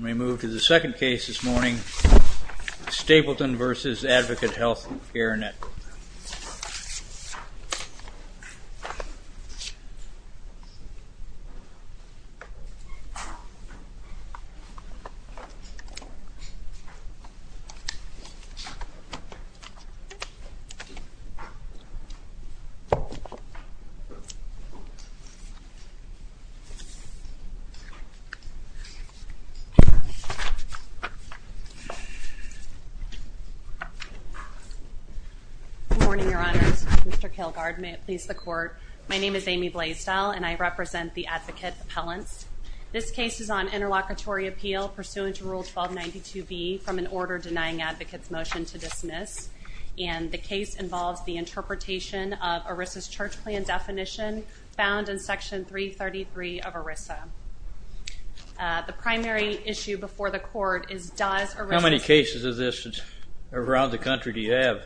We move to the second case this morning, Stapleton v. Advocate Health Care Network. Good morning, Your Honors. Mr. Kilgard, may it please the Court. My name is Amy Blaisdell and I represent the Advocate Appellants. This case is on interlocutory appeal pursuant to Rule 1292B from an order denying advocates' motion to dismiss, and the case involves the primary issue before the Court. How many cases of this around the country do you have?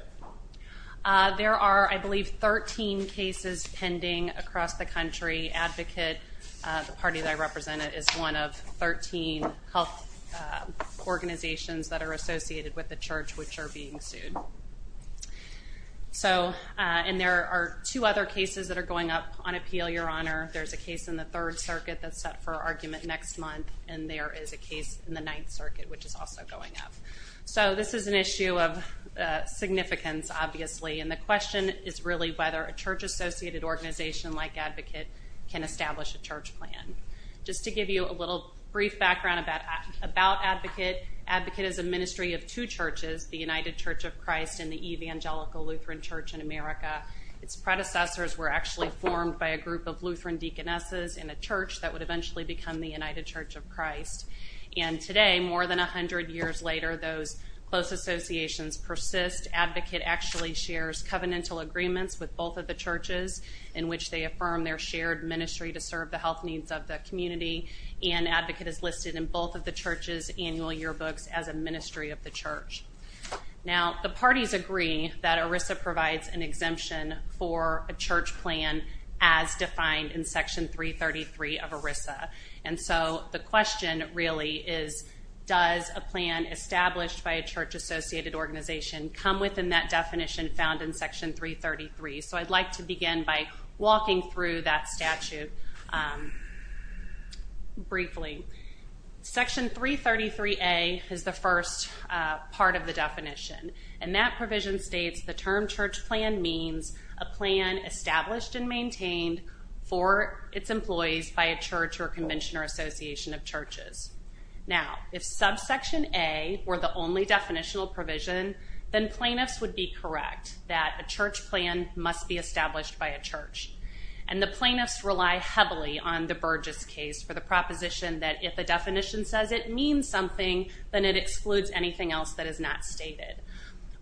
There are, I believe, 13 cases pending across the country. Advocate, the party that I represent, is one of 13 health organizations that are associated with the Church which are being sued. And there are two other cases that are going up on appeal, Your Honor. There's a case in the Ninth Circuit which is also going up. So this is an issue of significance, obviously, and the question is really whether a Church-associated organization like Advocate can establish a church plan. Just to give you a little brief background about Advocate, Advocate is a ministry of two churches, the United Church of Christ and the Evangelical Lutheran Church in America. Its predecessors were actually formed by a group of Lutheran deaconesses in a church that would eventually become the United Church of Christ. And today, more than 100 years later, those close associations persist. Advocate actually shares covenantal agreements with both of the churches in which they affirm their shared ministry to serve the health needs of the community, and Advocate is listed in both of the churches' annual yearbooks as a ministry of the church. Now, the parties agree that ERISA provides an exemption for a church plan as defined in ERISA, and so the question really is, does a plan established by a church-associated organization come within that definition found in Section 333? So I'd like to begin by walking through that statute briefly. Section 333A is the first part of the definition, and that provision states the term church plan means a plan established and maintained for its employees by a church or convention or association of churches. Now, if Subsection A were the only definitional provision, then plaintiffs would be correct that a church plan must be established by a church. And the plaintiffs rely heavily on the Burgess case for the proposition that if a definition says it means something, then it excludes anything else that is not stated.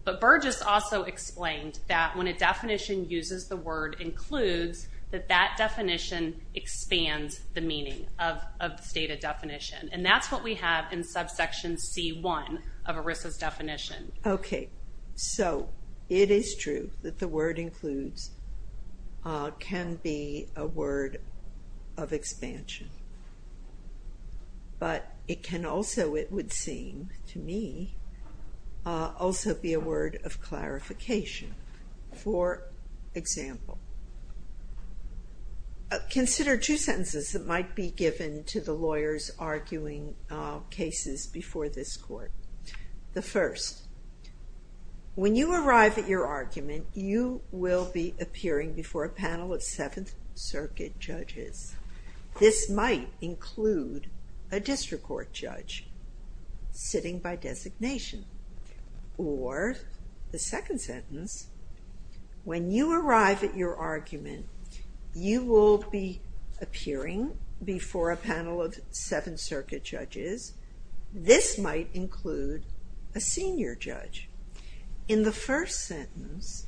But Burgess also explained that when a definition uses the word includes, that that definition expands the meaning of the stated definition, and that's what we have in Subsection C1 of ERISA's definition. Okay, so it is true that the word includes can be a word of expansion, but it can also, it would seem to me, also be a word of clarification. For example, consider two sentences that might be given to the lawyers arguing cases before this court. The first, when you arrive at your argument, you will be appearing before a panel of Seventh Circuit judges. This might include a district court judge sitting by designation. Or, the second sentence, when you arrive at your argument, you will be appearing before a panel of Seventh Circuit judges. This might include a senior judge. In the first sentence,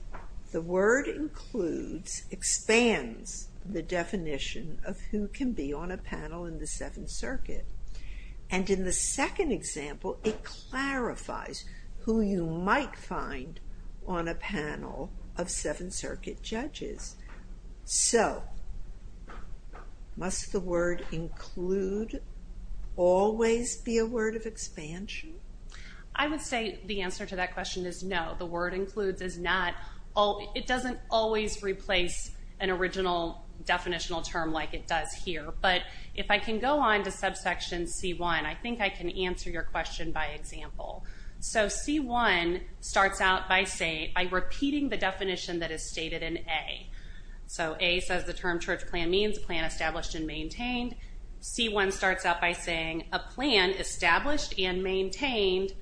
the word includes expands the definition of who can be on a panel in the Seventh Circuit. And in the second example, it clarifies who you might find on a panel of Seventh Circuit judges. So, must the word include always be a word of expansion? I would say the answer to that question is no. The word includes doesn't always replace an original definitional term like it does here. But, if I can go on to subsection C1, I think I can answer your question by example. So, C1 starts out by repeating the definition that is stated in A. So, A says the term church plan means plan established and maintained. C1 starts out by saying a plan established and maintained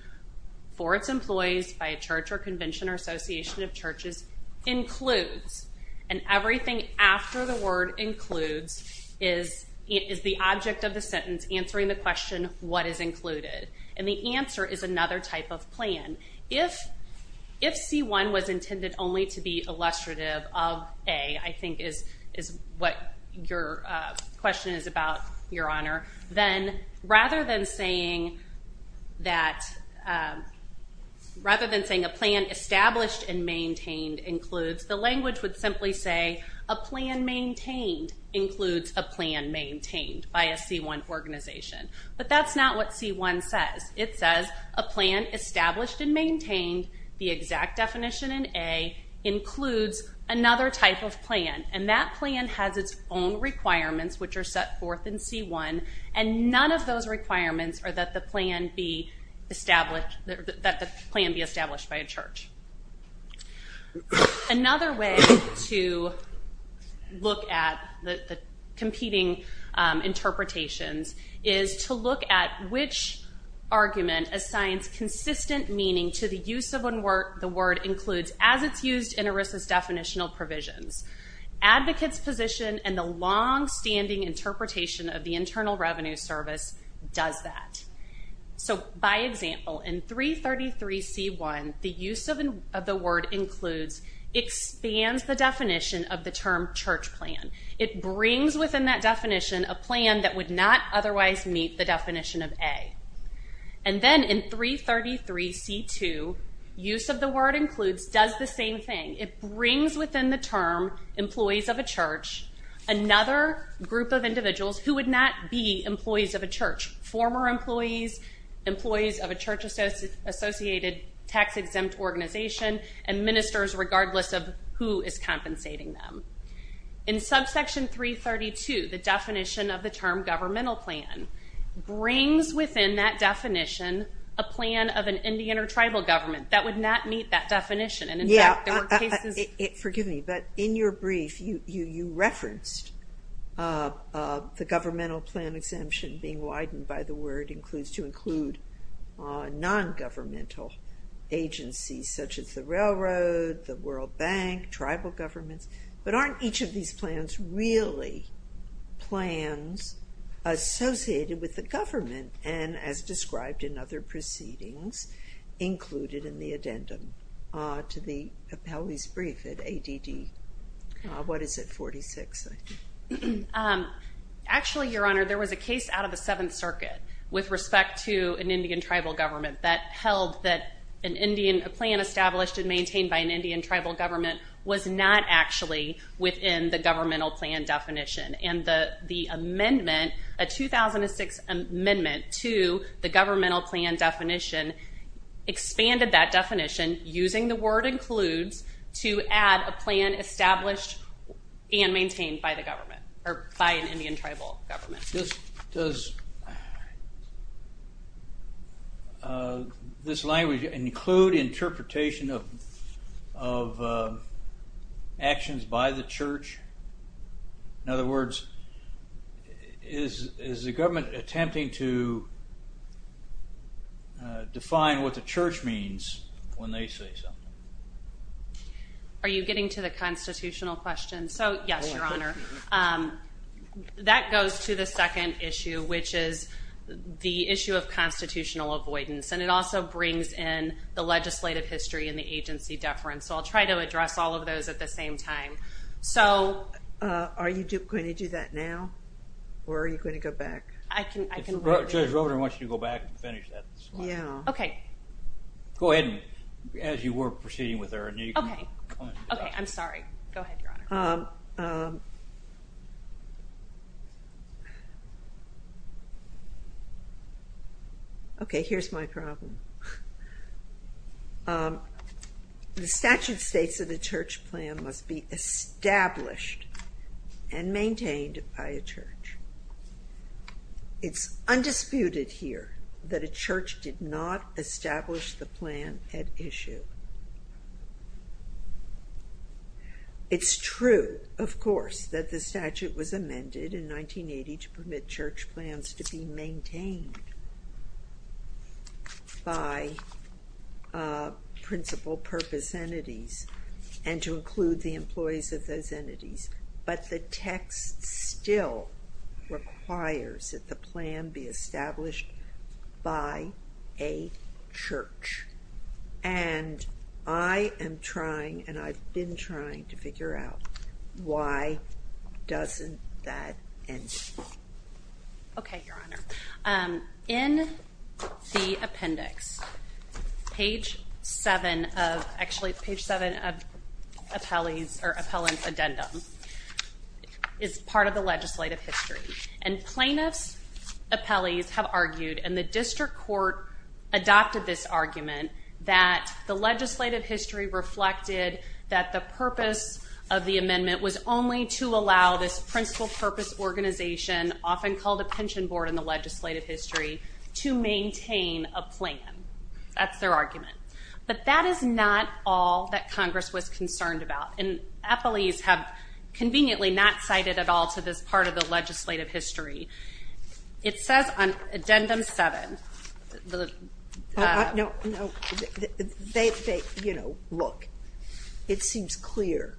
for its employees by a church or convention or association of churches includes. And everything after the word includes is the object of the sentence answering the question, what is included? And the answer is another type of plan. If C1 was intended only to be illustrative of is what your question is about, your honor, then rather than saying a plan established and maintained includes, the language would simply say a plan maintained includes a plan maintained by a C1 organization. But that's not what C1 says. It says a plan established and maintained, the exact definition in A, includes another type of plan. And that plan has its own requirements which are set forth in C1 and none of those requirements are that the plan be established by a church. Another way to look at the competing interpretations is to look at which argument assigns consistent meaning to the use of when the word includes as it's used in ERISA's definitional provisions. Advocates position and the long standing interpretation of the Internal Revenue Service does that. So, by example, in 333 C1, the use of the word includes expands the definition of the term church plan. It brings within that definition a plan that would not otherwise meet the definition of A. And then in 333 C2, use of the word includes does the same thing. It brings within the term employees of a church another group of individuals who would not be employees of a church, former employees, employees of a church associated tax exempt organization, and ministers regardless of who is compensating them. In subsection 332, the definition of the term governmental plan brings within that definition a plan of an Indian or tribal government that would not meet that definition. And in fact, there were cases... Yeah, forgive me, but in your brief, you referenced the governmental plan exemption being widened by the word includes to include non-governmental agencies, such as the railroad, the World Bank, tribal governments. But aren't each of these plans really plans associated with the government and as described in other proceedings included in the addendum to the Pepele's brief at ADD, what is it, 46? Actually, Your Honor, there was a case out of the Seventh Circuit with respect to an Indian tribal government that held that a plan established and maintained by an Indian tribal government was not actually within the governmental plan definition. And the amendment, a 2006 amendment to the governmental plan definition expanded that definition using the word includes to add a plan established and maintained by the government or by an Indian tribal government. Does this language include interpretation of actions by the church? In other words, is the government attempting to define what the church means when they say something? Are you getting to the constitutional question? So, yes, Your Honor. That goes to the second issue, which is the issue of constitutional avoidance. And it also brings in the legislative history and the agency deference. So I'll try to address all of those at the same time. So... Are you going to do that now or are you going to go back? I can... Judge Robert, I want you to go back and finish that slide. Okay. Go ahead as you were proceeding with her. Okay. I'm sorry. Go ahead, Your Honor. Okay, here's my problem. The statute states that a church plan must be established and does not establish the plan at issue. It's true, of course, that the statute was amended in 1980 to permit church plans to be maintained by principal purpose entities and to include the employees of those entities. But the text still requires that the plan be established by a church. And I am trying and I've been trying to figure out why doesn't that end? Okay, Your Honor. In the appendix, page 7 of... Actually, page 7 of appellant's addendum is part of the legislative history. And plaintiff's appellees have argued, and the district court adopted this argument, that the legislative history reflected that the purpose of the amendment was only to allow this principal purpose organization, often called a pension board in the legislative history, to maintain a plan. That's their argument. But that is not all that Congress was concerned about. And appellees have conveniently not cited at all to this part of the legislative history. It says on addendum 7... No, no. They, you know, look, it seems clear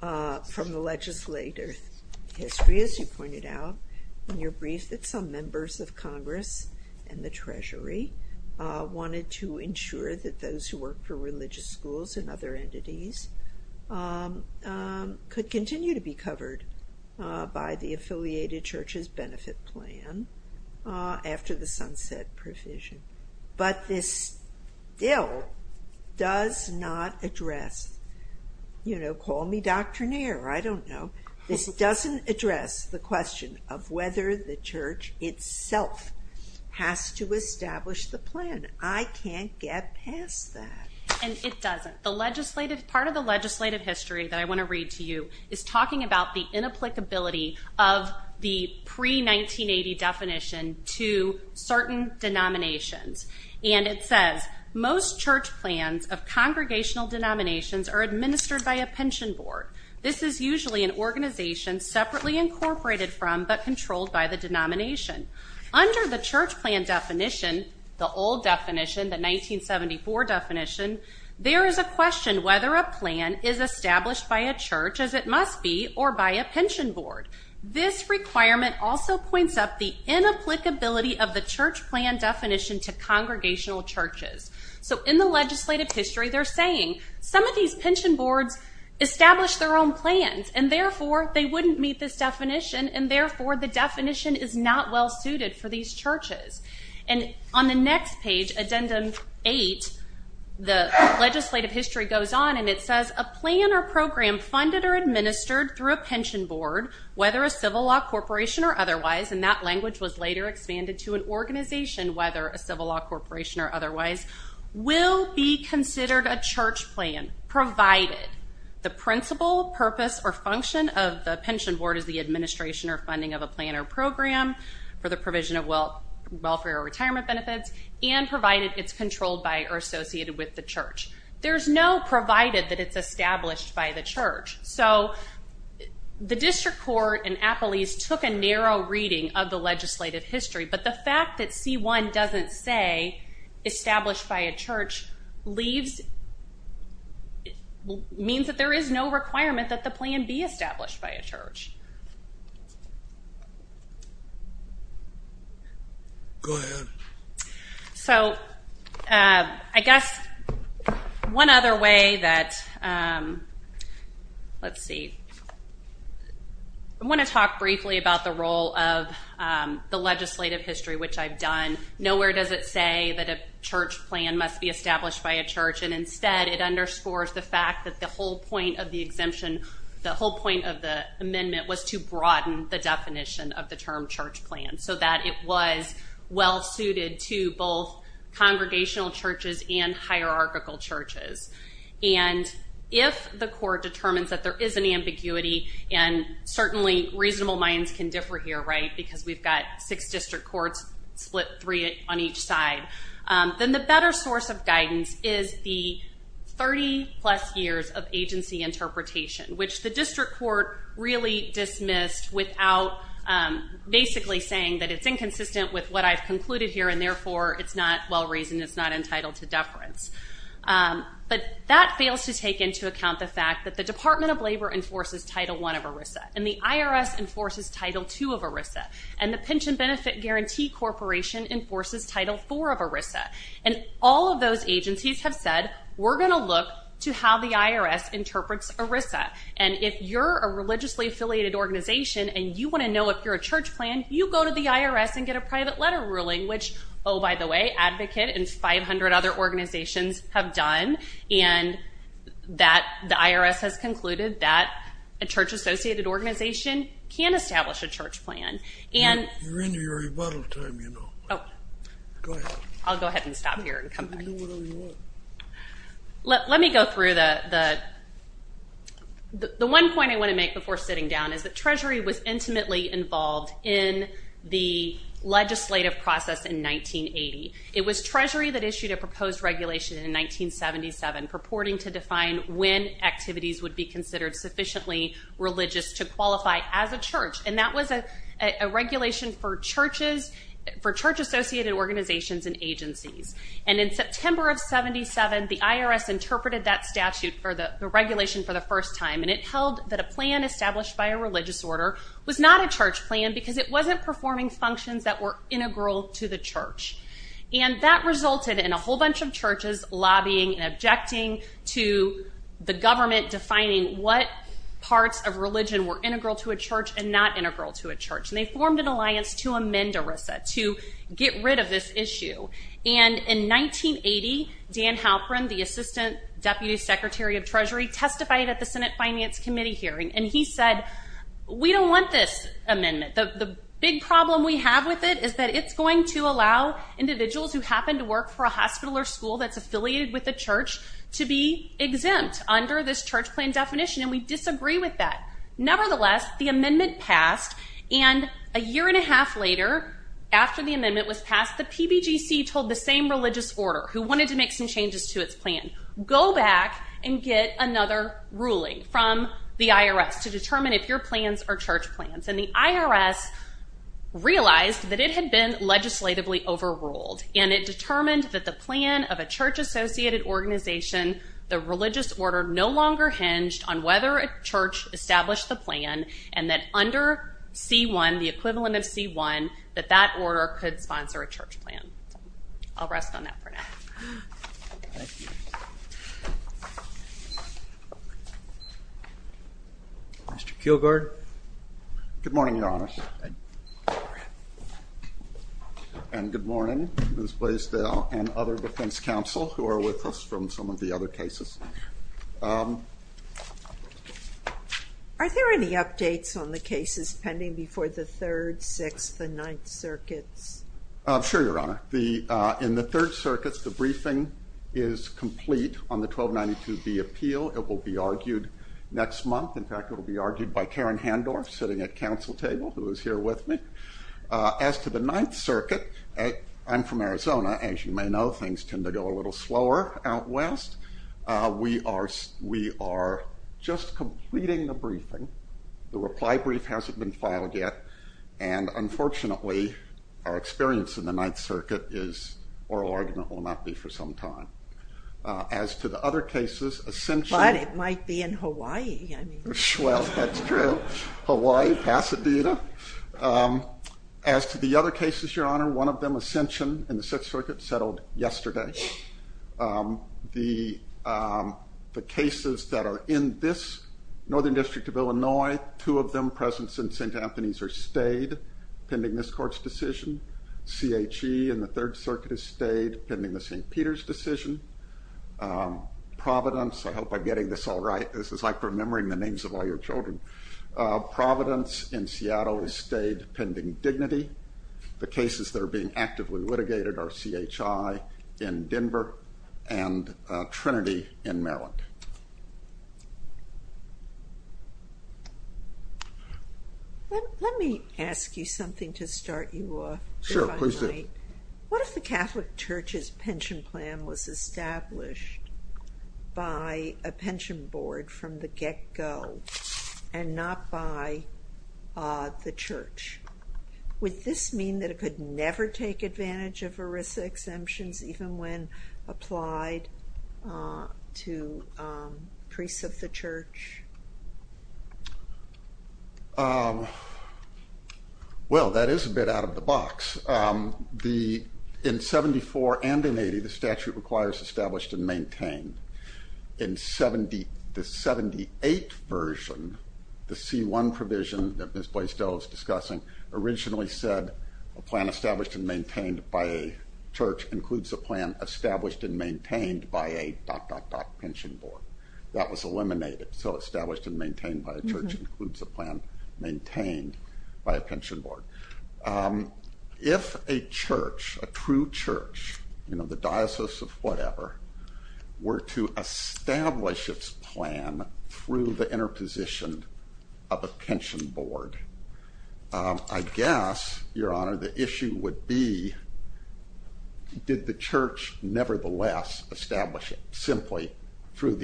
from the legislative history, as you pointed out in your brief, that some members of Congress and the Treasury wanted to ensure that those who work for religious schools and other entities could continue to be covered by the affiliated church's benefit plan after the sunset provision. But this still does not address, you know, call me doctrinaire, I don't know. This doesn't address the question of whether the church itself has to establish the plan. I can't get past that. And it doesn't. The legislative, part of the legislative history that I want to read to you is talking about the inapplicability of the pre-1980 definition to certain denominations. And it says, most church plans of congregational denominations are administered by a pension board. This is usually an organization separately incorporated from but controlled by the denomination. Under the church plan definition, the old definition, the 1974 definition, there is a question whether a plan is established by a church, as it must be, or by a pension board. This requirement also points up the inapplicability of the church plan definition to congregational churches. So in the legislative history, they're saying some of these pension boards establish their own plans and therefore they wouldn't meet this definition, and therefore the definition is not well suited for these churches. And on the next page, Addendum 8, the legislative history goes on and it says, a plan or program funded or administered through a pension board, whether a civil law corporation or otherwise, and that language was later expanded to an organization whether a civil law corporation or otherwise, will be considered a church plan provided the principle, purpose, or function of the pension board is the administration or funding of a plan or program for the provision of welfare or retirement benefits and provided it's controlled by or associated with the church. There's no provided that it's established by the church. So the district court in Appalachia took a narrow reading of the legislative history, but the fact that C1 doesn't say established by a church leaves, means that there is no requirement that the plan be established by a church. Go ahead. So I guess one other way that, let's see, I want to talk briefly about the role of the legislative history, which I've done. Nowhere does it say that a church plan must be established by a church, and instead it underscores the fact that the whole point of the exemption, the whole point of the amendment was to broaden the definition of the term church plan so that it was well suited to both congregational churches and hierarchical churches. And if the court determines that there is an ambiguity, and certainly reasonable minds can differ here, right, because we've got six district courts split three on each side, then the better source of guidance is the 30-plus years of agency interpretation, which the district court really dismissed without basically saying that it's inconsistent with what I've concluded here, and therefore it's not well-reasoned, it's not entitled to deference. But that fails to take into account the fact that the Department of Labor enforces Title I of ERISA, and the IRS enforces Title II of ERISA, and the Pension Benefit Guarantee Corporation enforces Title IV of ERISA. And all of those agencies have said, we're going to look to how the IRS interprets ERISA, and if you're a religiously affiliated organization and you want to know if you're a church plan, you go to the IRS and get a private letter ruling, which, oh, by the way, Advocate and 500 other organizations have done, and the IRS has concluded that a church-associated organization can establish a church plan. You're in your rebuttal time, you know. Oh. Go ahead. I'll go ahead and stop here and come back. You can do whatever you want. Let me go through the one point I want to make before sitting down, is that Treasury was intimately involved in the legislative process in 1980. It was Treasury that issued a proposed regulation in 1977 purporting to define when activities would be considered sufficiently religious to qualify as a church, and that was a regulation for churches, for church-associated organizations and agencies. And in September of 77, the IRS interpreted that statute for the regulation for the first time, and it held that a plan established by a religious order was not a church plan because it wasn't performing functions that were integral to the church. And that resulted in a whole bunch of churches lobbying and objecting to the government defining what parts of religion were integral to a church and not integral to a church, and they formed an alliance to amend ERISA, to get rid of this issue. And in 1980, Dan Halperin, the Assistant Deputy Secretary of Treasury, testified at the Senate Finance Committee hearing, and he said, we don't want this amendment. The big problem we have with it is that it's going to allow individuals who happen to work for a hospital or school that's affiliated with a church to be exempt under this church plan definition, and we disagree with that. Nevertheless, the amendment passed, and a year and a half later, after the amendment was passed, the PBGC told the same religious order who wanted to make some changes to its plan, go back and get another ruling from the IRS to determine if your plans are church plans. And the IRS realized that it had been legislatively overruled, and it determined that the plan of a church-associated organization, the religious order, no longer hinged on whether a church established the plan and that under C-1, the equivalent of C-1, that that order could sponsor a church plan. I'll rest on that for now. Mr. Kielgard? Good morning, Your Honor. And good morning, Ms. Blaisdell and other defense counsel who are with us from some of the other cases. Are there any updates on the cases pending before the Third, Sixth, and Ninth Circuits? Sure, Your Honor. In the Third Circuits, the briefing is complete on the 1292B appeal. It will be argued next month. In fact, it will be argued by Karen Handorf, sitting at counsel table, who is here with me. As to the Ninth Circuit, I'm from Arizona. As you may know, things tend to go a little slower out west. We are just completing the briefing. The reply brief hasn't been filed yet. And unfortunately, our experience in the Ninth Circuit is oral argument will not be for some time. As to the other cases, Ascension- But it might be in Hawaii. Well, that's true. Hawaii, Pasadena. As to the other cases, Your Honor, one of them, Ascension, in the Sixth Circuit, settled yesterday. The cases that are in this Northern District of Illinois, two of them present since St. Anthony's, are stayed pending this court's decision. CHE in the Third Circuit is stayed pending the St. Peter's decision. Providence, I hope I'm getting this all right. This is like remembering the names of all your children. Providence in Seattle is stayed pending dignity. The cases that are being actively litigated are CHI in Denver and Trinity in Maryland. Let me ask you something to start you off. Sure, please do. What if the Catholic Church's pension plan was established by a pension board from the get-go and not by the Church? Would this mean that it could never take advantage of ERISA exemptions, even when applied to priests of the Church? Well, that is a bit out of the box. In 74 and in 80, the statute requires established and maintained. In the 78 version, the C1 provision that Ms. Boyce-Dole is discussing, originally said a plan established and maintained by a church includes a plan established and maintained by a dot, dot, dot, pension board. That was eliminated. So established and maintained by a church includes a plan maintained by a pension board. If a church, a true church, you know, the Diocese of whatever, were to establish its plan through the interposition of a pension board, I guess, Your Honor, the issue would be did the church nevertheless establish it simply through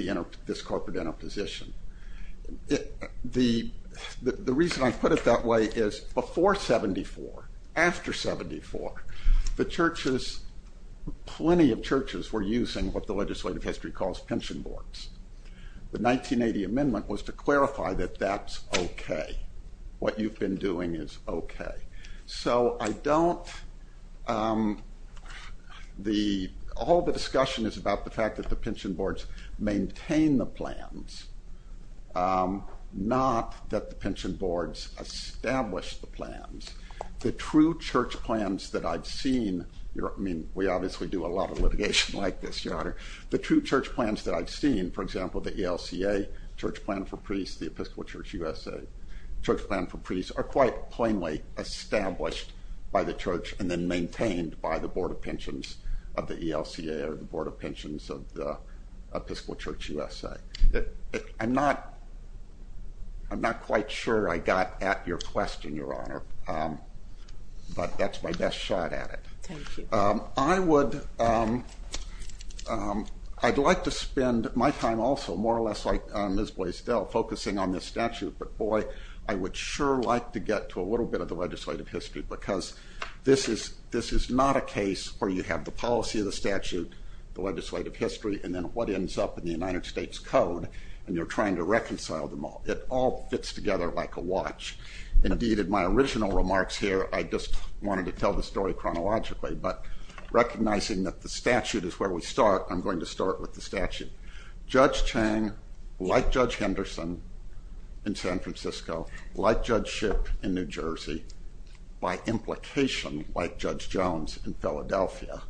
this corporate interposition? The reason I put it that way is before 74, after 74, the churches, plenty of churches were using what the legislative history calls pension boards. The 1980 amendment was to clarify that that's okay. What you've been doing is okay. So I don't, the, all the discussion is about the fact that the pension boards maintain the plans, not that the pension boards establish the plans. The true church plans that I've seen, I mean, we obviously do a lot of litigation like this, Your Honor. The true church plans that I've seen, for example, the ELCA, Church Plan for Priests, the Episcopal Church USA, Church Plan for Priests, are quite plainly established by the church and then maintained by the board of pensions of the ELCA or the board of pensions of the Episcopal Church USA. I'm not, I'm not quite sure I got at your question, Your Honor, but that's my best shot at it. Thank you. I would, I'd like to spend my time also, more or less like Ms. Blaisdell, focusing on this statute. But boy, I would sure like to get to a little bit of the legislative history because this is, this is not a case where you have the policy of the statute, the legislative history, and then what ends up in the United States Code, and you're trying to reconcile them all. It all fits together like a watch. Indeed, in my original remarks here, I just wanted to tell the story chronologically, but recognizing that the statute is where we start, I'm going to start with the statute. Judge Chang, like Judge Henderson in San Francisco, like Judge Shipp in New Jersey, by implication, like Judge Jones in Philadelphia,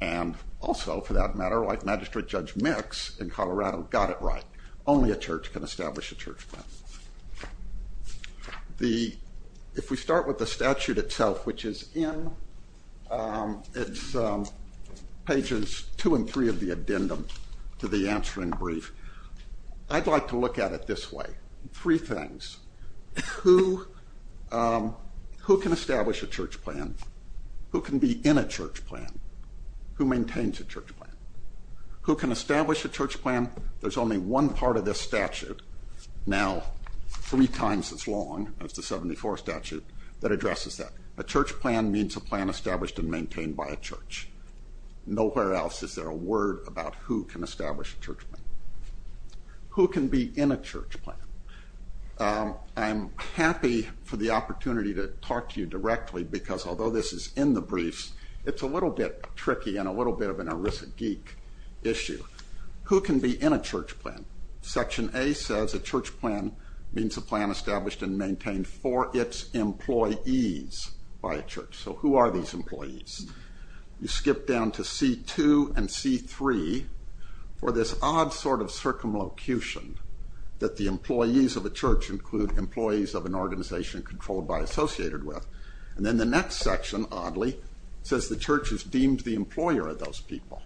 and also, for that matter, like Magistrate Judge Mix in Colorado, got it right. Only a church can establish a church plan. The, if we start with the statute itself, which is in, it's pages two and three of the addendum to the answering brief, I'd like to look at it this way. Three things. Who, who can establish a church plan? Who can be in a church plan? Who maintains a church plan? Who can establish a church plan? There's only one part of this statute, now three times as long as the 74 statute, that addresses that. A church plan means a plan established and maintained by a church. Nowhere else is there a word about who can establish a church plan. Who can be in a church plan? I'm happy for the opportunity to talk to you directly, because although this is in the briefs, it's a little bit tricky and a little bit of an Arisa Geek issue. Who can be in a church plan? Section A says a church plan means a plan established and maintained for its employees by a church. So who are these employees? You skip down to C2 and C3 for this odd sort of circumlocution that the employees of a church include employees of an organization controlled by, associated with. And then the next section, oddly, says the church is deemed the employer of those people.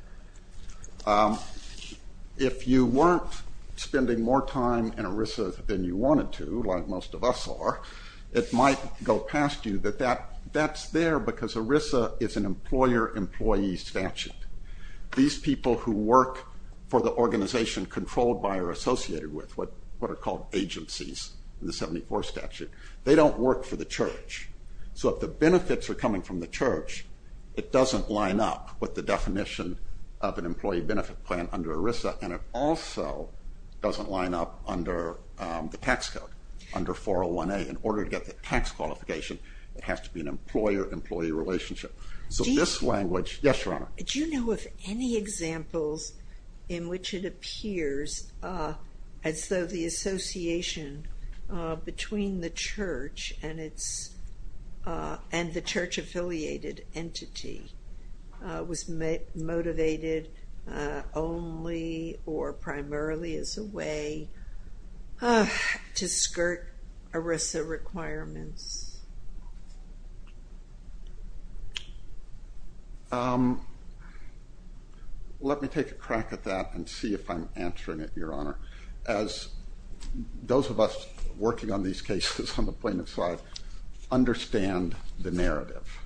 If you weren't spending more time in Arisa than you wanted to, like most of us are, it might go past you that that's there because Arisa is an employer-employee statute. These people who work for the organization controlled by or associated with, what are called agencies in the 74 statute, they don't work for the church. So if the benefits are coming from the church, it doesn't line up with the definition of an employee benefit plan under Arisa. And it also doesn't line up under the tax code, under 401A. In order to get the tax qualification, it has to be an employer-employee relationship. So this language- Yes, Your Honor. Do you know of any examples in which it appears as though the association between the church and the church-affiliated entity was motivated only or primarily as a way to skirt Arisa requirements? Let me take a crack at that and see if I'm answering it, Your Honor. As those of us working on these cases on the plaintiff's side understand the narrative,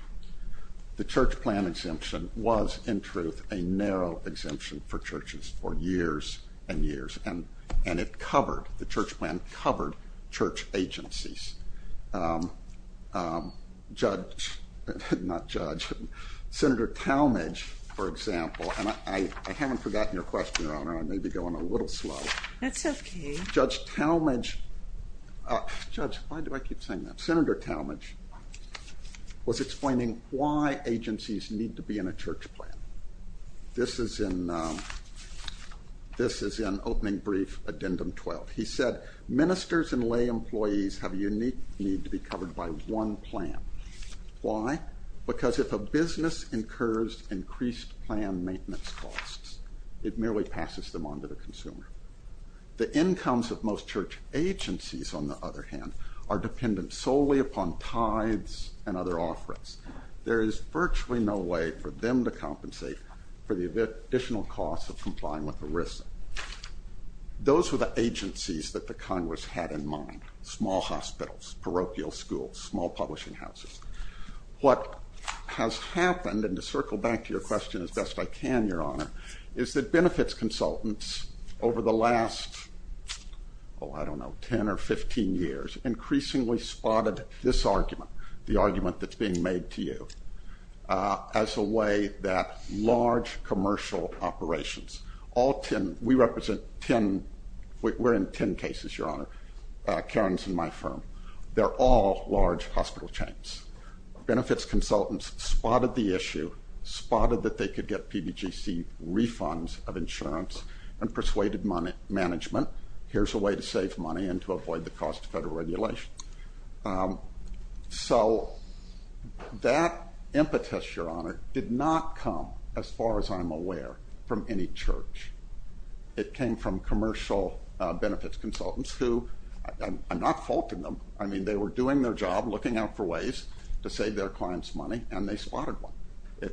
the church plan exemption was, in truth, a narrow exemption for churches for years and years. And it covered, the church plan covered, church agencies. Judge, not judge, Senator Talmadge, for example, and I haven't forgotten your question, Your Honor. I may be going a little slow. That's okay. Judge Talmadge, judge, why do I keep saying that? Senator Talmadge was explaining why agencies need to be in a church plan. This is in opening brief addendum 12. He said ministers and lay employees have a unique need to be covered by one plan. Why? Because if a business incurs increased plan maintenance costs, it merely passes them on to the consumer. The incomes of most church agencies, on the other hand, are dependent solely upon tithes and other offerings. There is virtually no way for them to compensate for the additional costs of complying with Arisa. Those were the agencies that the Congress had in mind, small hospitals, parochial schools, small publishing houses. What has happened, and to circle back to your question as best I can, Your Honor, is that benefits consultants over the last, oh, I don't know, 10 or 15 years, increasingly spotted this argument, the argument that's being made to you, as a way that large commercial operations, all 10, we represent 10, we're in 10 cases, Your Honor, Karens and my firm. They're all large hospital chains. Benefits consultants spotted the issue, spotted that they could get PBGC refunds of insurance, and persuaded management, here's a way to save money and to avoid the cost of federal regulation. So that impetus, Your Honor, did not come, as far as I'm aware, from any church. It came from commercial benefits consultants who, I'm not faulting them, I mean, they were doing their job, looking out for ways to save their clients money, and they spotted one.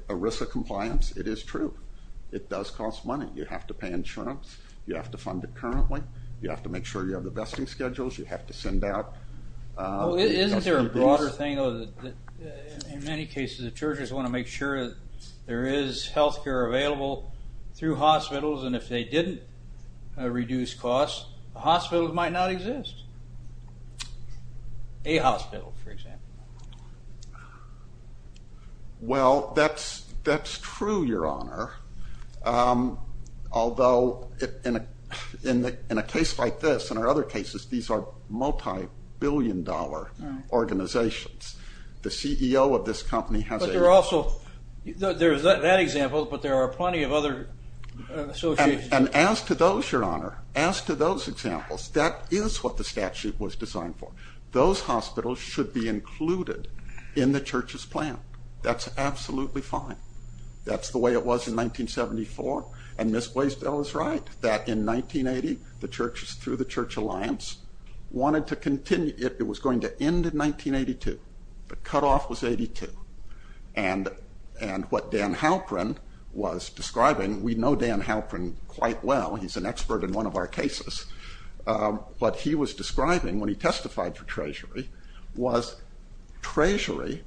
Arisa compliance, it is true. It does cost money. You have to pay insurance. You have to fund it currently. You have to make sure you have the vesting schedules. You have to send out... Isn't there a broader thing, in many cases, the churches want to make sure there is health care available through hospitals, and if they didn't reduce costs, the hospitals might not exist. A hospital, for example. Well, that's true, Your Honor. Although, in a case like this, and there are other cases, these are multi-billion dollar organizations. The CEO of this company has a... But there are also, there's that example, but there are plenty of other associations... And as to those, Your Honor, as to those examples, that is what the statute was designed for. Those hospitals should be included in the church's plan. That's absolutely fine. That's the way it was in 1974. And Ms. Blaisdell is right, that in 1980, the churches, through the church alliance, wanted to continue. It was going to end in 1982. The cutoff was 82. And what Dan Halprin was describing, we know Dan Halprin quite well. He's an expert in one of our cases. But he was describing, when he testified for Treasury, was Treasury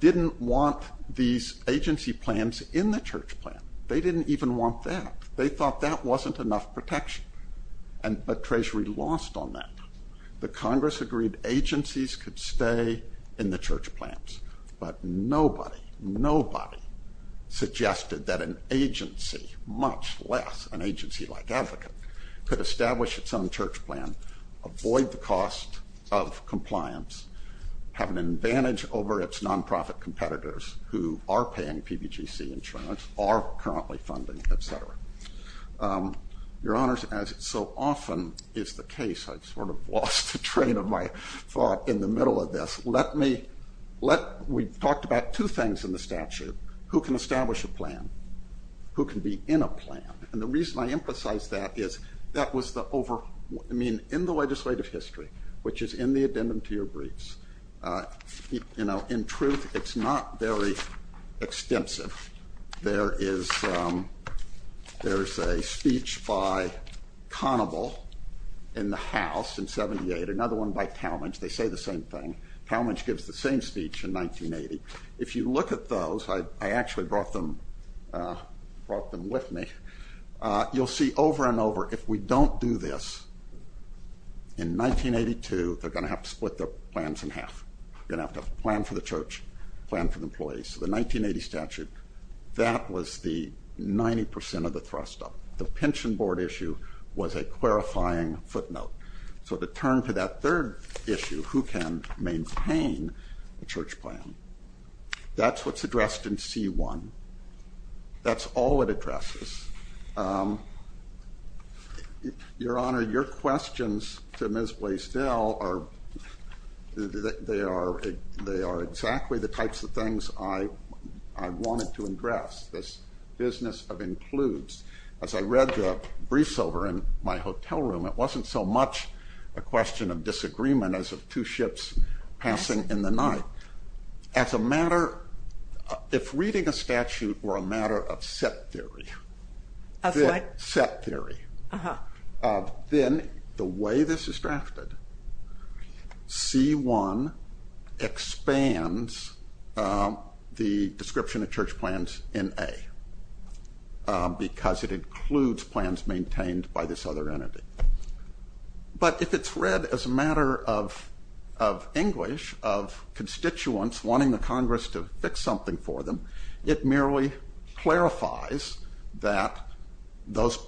didn't want these agency plans in the church plan. They didn't even want that. They thought that wasn't enough protection. But Treasury lost on that. The Congress agreed agencies could stay in the church plans. But nobody, nobody suggested that an agency, much less an agency like Advocate, could establish its own church plan, avoid the cost of compliance, have an advantage over its nonprofit competitors, who are paying PBGC insurance, are currently funding, et cetera. Your Honors, as so often is the case, I've sort of lost the train of my thought in the middle of this. Let me, let, we talked about two things in the statute. Who can establish a plan? Who can be in a plan? And the reason I emphasize that is, that was the over, I mean, in the legislative history, which is in the addendum to your briefs, you know, in truth, it's not very extensive. There is, there's a speech by Conable in the House in 78, another one by Talmadge. They say the same thing. Talmadge gives the same speech in 1980. If you look at those, I actually brought them, brought them with me. You'll see over and over, if we don't do this in 1982, they're going to have to split their plans in half. They're going to have to plan for the church, plan for the employees. So the 1980 statute, that was the 90% of the thrust up. The pension board issue was a clarifying footnote. So to turn to that third issue, who can maintain a church plan? That's what's addressed in C1. That's all it addresses. Your Honor, your questions to Ms. Blaisdell are, they are exactly the types of things I wanted to address, this business of includes. As I read the briefs over in my hotel room, it wasn't so much a question of disagreement as of two ships passing in the night. As a matter, if reading a statute were a matter of set theory, set theory, then the way this is drafted, C1 expands the description of church plans in A, because it includes plans maintained by this other entity. But if it's read as a matter of English, of constituents wanting the Congress to fix something for them, it merely clarifies that those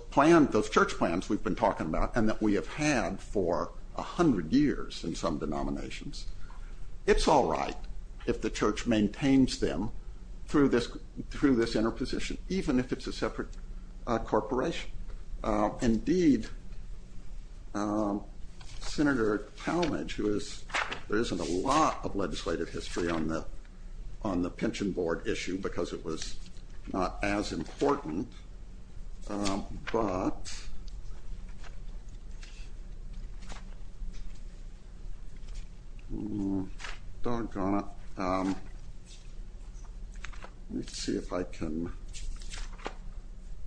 church plans we've been talking about and that we have had for 100 years in some denominations, it's all right if the church maintains them through this interposition, even if it's a separate corporation. Indeed, Senator Talmadge, who is, there isn't a lot of legislative history on the pension board issue because it was not as important, but, let's see if I can,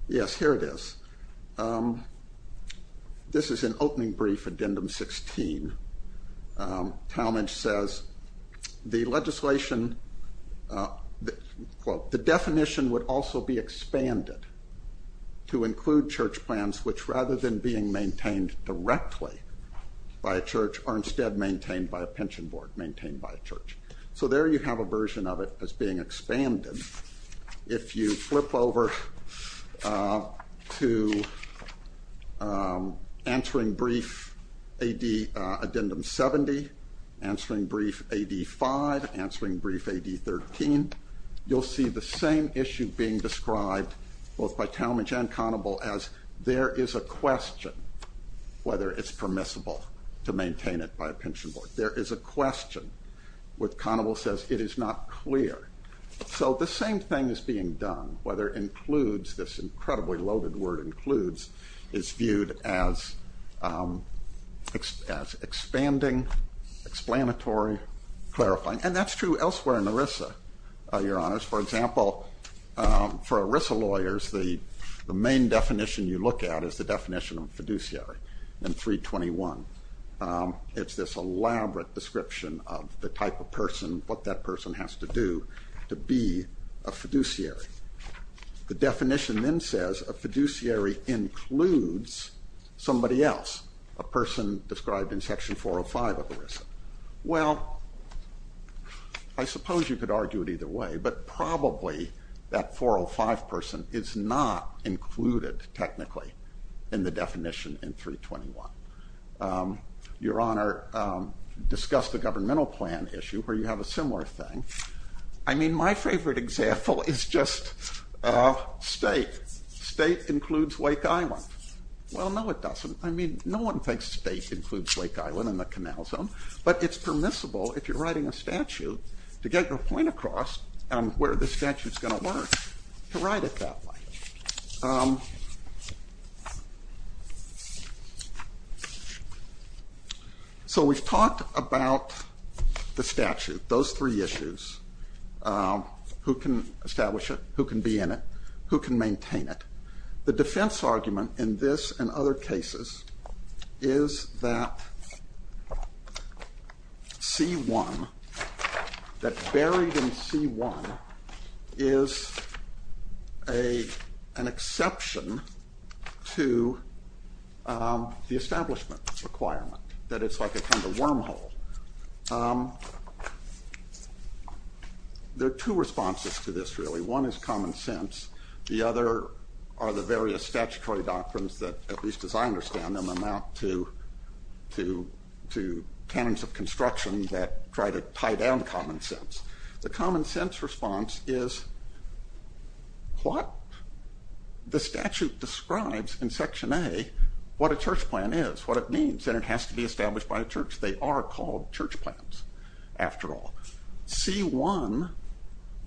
yes, here it is. This is an opening brief, Addendum 16. Talmadge says the legislation, quote, the definition would also be expanded to include church plans, which rather than being maintained directly by a church are instead maintained by a pension board, maintained by a church. So there you have a version of it as being expanded. If you flip over to answering brief A.D., Addendum 70, answering brief A.D. 5, answering brief A.D. 13, you'll see the same issue being described both by Talmadge and Conable as there is a question whether it's permissible to maintain it by a pension board. There is a question where Conable says it is not clear. So the same thing is being done, whether includes, this incredibly loaded word includes, is viewed as expanding, explanatory, clarifying, and that's true elsewhere in ERISA, Your Honors. For example, for ERISA lawyers, the main definition you look at is the definition of fiduciary in 321. It's this elaborate description of the type of person, what that person has to do to be a fiduciary. The definition then says a fiduciary includes somebody else, a person described in Section 405 of ERISA. Well, I suppose you could argue it either way, but probably that 405 person is not included technically in the definition in 321. Your Honor, discuss the governmental plan issue where you have a similar thing. I mean, my favorite example is just state. State includes Wake Island. Well, no, it doesn't. I mean, no one thinks state includes Wake Island in the canal zone, but it's permissible if you're writing a statute to get your point across where the statute is going to work to write it that way. So we've talked about the statute, those three issues, who can establish it, who can be in it, who can maintain it. The defense argument in this and other cases is that C1, that buried in C1 is an exception to the establishment requirement, that it's like a kind of wormhole. There are two responses to this really. One is common sense. The other are the various statutory doctrines that, at least as I understand them, amount to canons of construction that try to tie down common sense. The common sense response is what the statute describes in Section A, what a church plan is, what it means, and it has to be established by a church. They are called church plans, after all. C1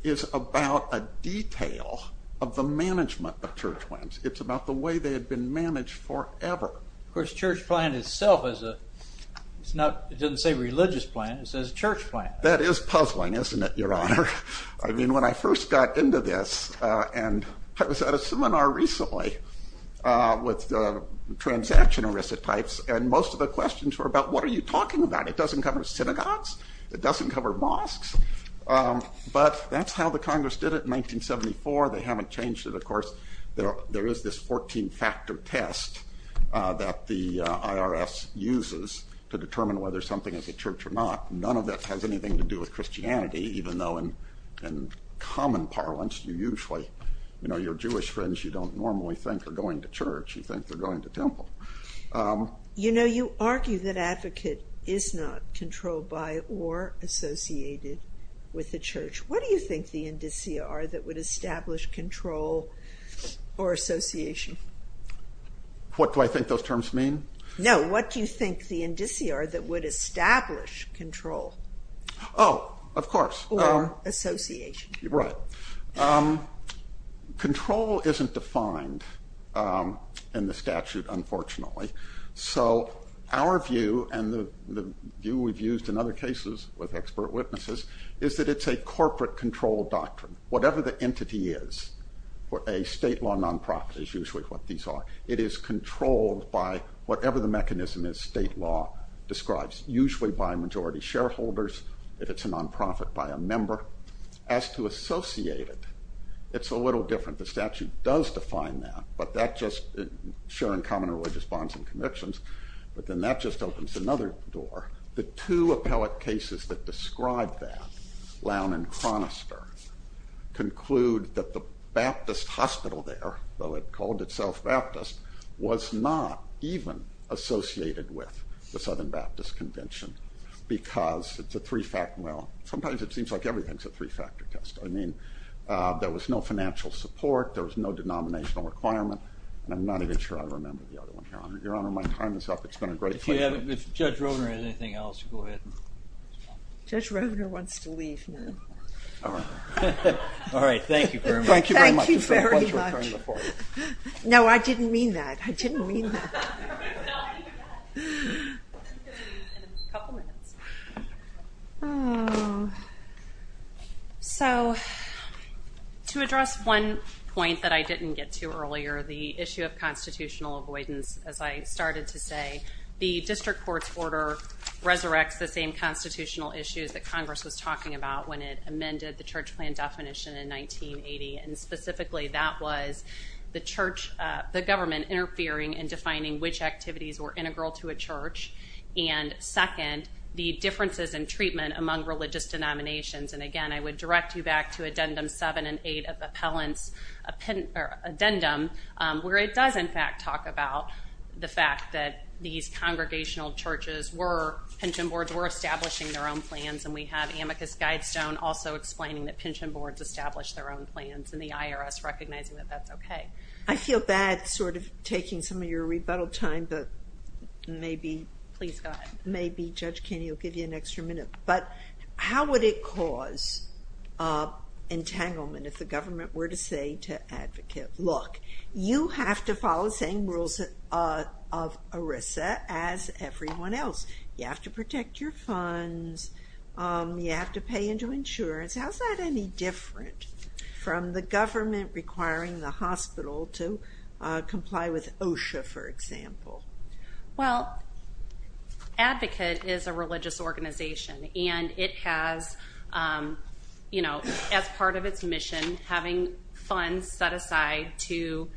is about a detail of the management of church plans. It's about the way they have been managed forever. Of course, church plan itself is a, it's not, it doesn't say religious plan, it says church plan. That is puzzling, isn't it, Your Honor? I mean, when I first got into this and I was at a seminar recently with the transaction arisotypes and most of the questions were about what are you talking about? It doesn't cover synagogues. It doesn't cover mosques. But that's how the Congress did it in 1974. They haven't changed it, of course. There is this 14-factor test that the IRS uses to determine whether something is a church or not. None of that has anything to do with Christianity, even though in common parlance you usually, you know, your Jewish friends you don't normally think are going to church. You think they're going to temple. You know, you argue that advocate is not controlled by or associated with the church. What do you think the indicia are that would establish control or association? What do I think those terms mean? No, what do you think the indicia are that would establish control? Oh, of course. Or association. Right. Control isn't defined in the statute, unfortunately. So our view and the view we've used in other cases with expert witnesses is that it's a corporate control doctrine. Whatever the entity is for a state law nonprofit is usually what these are. It is controlled by whatever the mechanism is state law describes, usually by majority shareholders. If it's a nonprofit, by a member. As to associated, it's a little different. The statute does define that. But that just, sharing common religious bonds and convictions, but then that just opens another door. The two appellate cases that describe that, Lown and Chronister, conclude that the Baptist hospital there, though it called itself Baptist, was not even associated with the Southern Baptist Convention because it's a three-factor. Well, sometimes it seems like everything is a three-factor test. I mean, there was no financial support. There was no denominational requirement. I'm not even sure I remember the other one here. Your Honor, my time is up. It's been a great pleasure. If Judge Rovner has anything else, go ahead. Judge Rovner wants to leave now. All right. All right. Thank you very much. Thank you very much. Thank you very much. No, I didn't mean that. I didn't mean that. A couple minutes. So to address one point that I didn't get to earlier, the issue of constitutional avoidance. As I started to say, the district court's order resurrects the same constitutional issues that Congress was talking about when it amended the church plan definition in 1980, and specifically that was the church, the government interfering in defining which activities were integral to a church. And second, the differences in treatment among religious denominations. And again, I would direct you back to Addendum 7 and 8 of Appellant's Addendum, where it does in fact talk about the fact that these congregational churches were, pension boards were establishing their own plans. And we have Amicus Guidestone also explaining that pension boards established their own plans and the IRS recognizing that that's okay. I feel bad sort of taking some of your rebuttal time, but maybe. Please go ahead. Maybe Judge Kenney will give you an extra minute. But how would it cause entanglement if the government were to say to advocate, look, you have to follow the same rules of ERISA as everyone else. You have to protect your funds. You have to pay into insurance. How is that any different from the government requiring the hospital to comply with OSHA, for example? Well, Advocate is a religious organization, and it has, you know, as part of its mission, having funds set aside to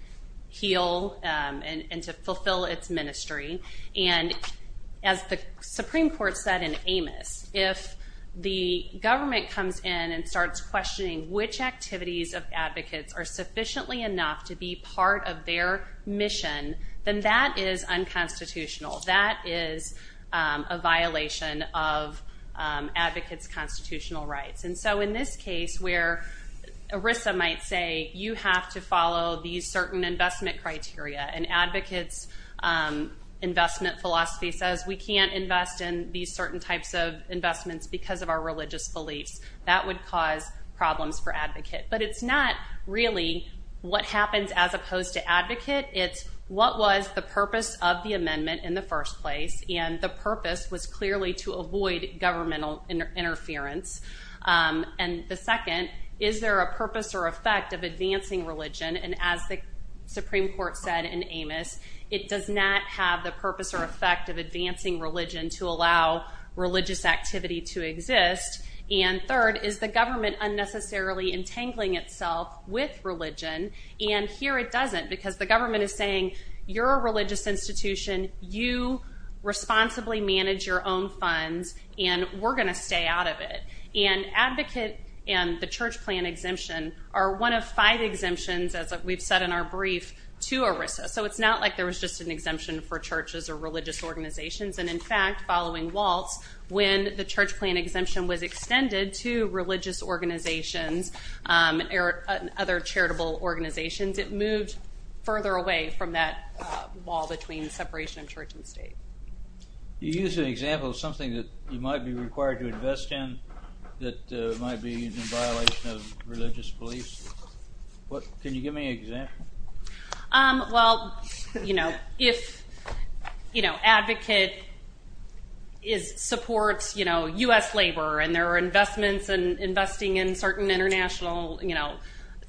heal and to fulfill its ministry. And as the Supreme Court said in Amos, if the government comes in and starts questioning which activities of Advocates are sufficiently enough to be part of their mission, then that is unconstitutional. That is a violation of Advocates' constitutional rights. And so in this case where ERISA might say, you have to follow these certain investment criteria, and Advocates' investment philosophy says we can't invest in these certain types of investments because of our religious beliefs, that would cause problems for Advocate. But it's not really what happens as opposed to Advocate. It's what was the purpose of the amendment in the first place, and the purpose was clearly to avoid governmental interference. And the second, is there a purpose or effect of advancing religion? And as the Supreme Court said in Amos, it does not have the purpose or effect of advancing religion to allow religious activity to exist. And third, is the government unnecessarily entangling itself with religion? And here it doesn't, because the government is saying, you're a religious institution, you responsibly manage your own funds, and we're going to stay out of it. And Advocate and the church plan exemption are one of five exemptions, as we've said in our brief, to ERISA. So it's not like there was just an exemption for churches or religious organizations, and in fact, following Waltz, when the church plan exemption was extended to religious organizations and other charitable organizations, it moved further away from that wall between separation of church and state. You used an example of something that you might be required to invest in that might be in violation of religious beliefs. Can you give me an example? Well, you know, if Advocate supports U.S. labor and their investments and investing in certain international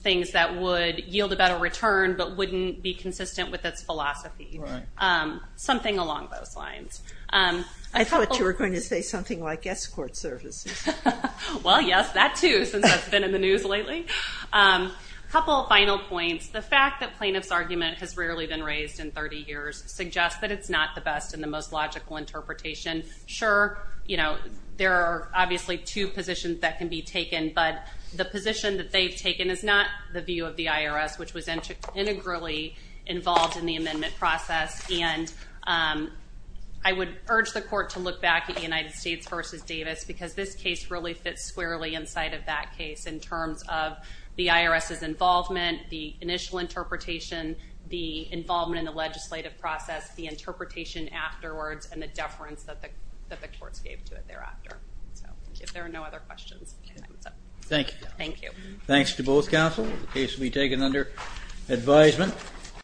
things that would yield a better return but wouldn't be consistent with its philosophy, something along those lines. I thought you were going to say something like escort services. Well, yes, that too, since that's been in the news lately. A couple of final points. The fact that plaintiff's argument has rarely been raised in 30 years suggests that it's not the best and the most logical interpretation. Sure, you know, there are obviously two positions that can be taken, but the position that they've taken is not the view of the IRS, which was integrally involved in the amendment process. And I would urge the court to look back at the United States versus Davis because this case really fits squarely inside of that case in terms of the IRS's involvement, the initial interpretation, the involvement in the legislative process, the interpretation afterwards, and the deference that the courts gave to it thereafter. So if there are no other questions. Thank you. Thank you. Thanks to both counsel. The case will be taken under advisement.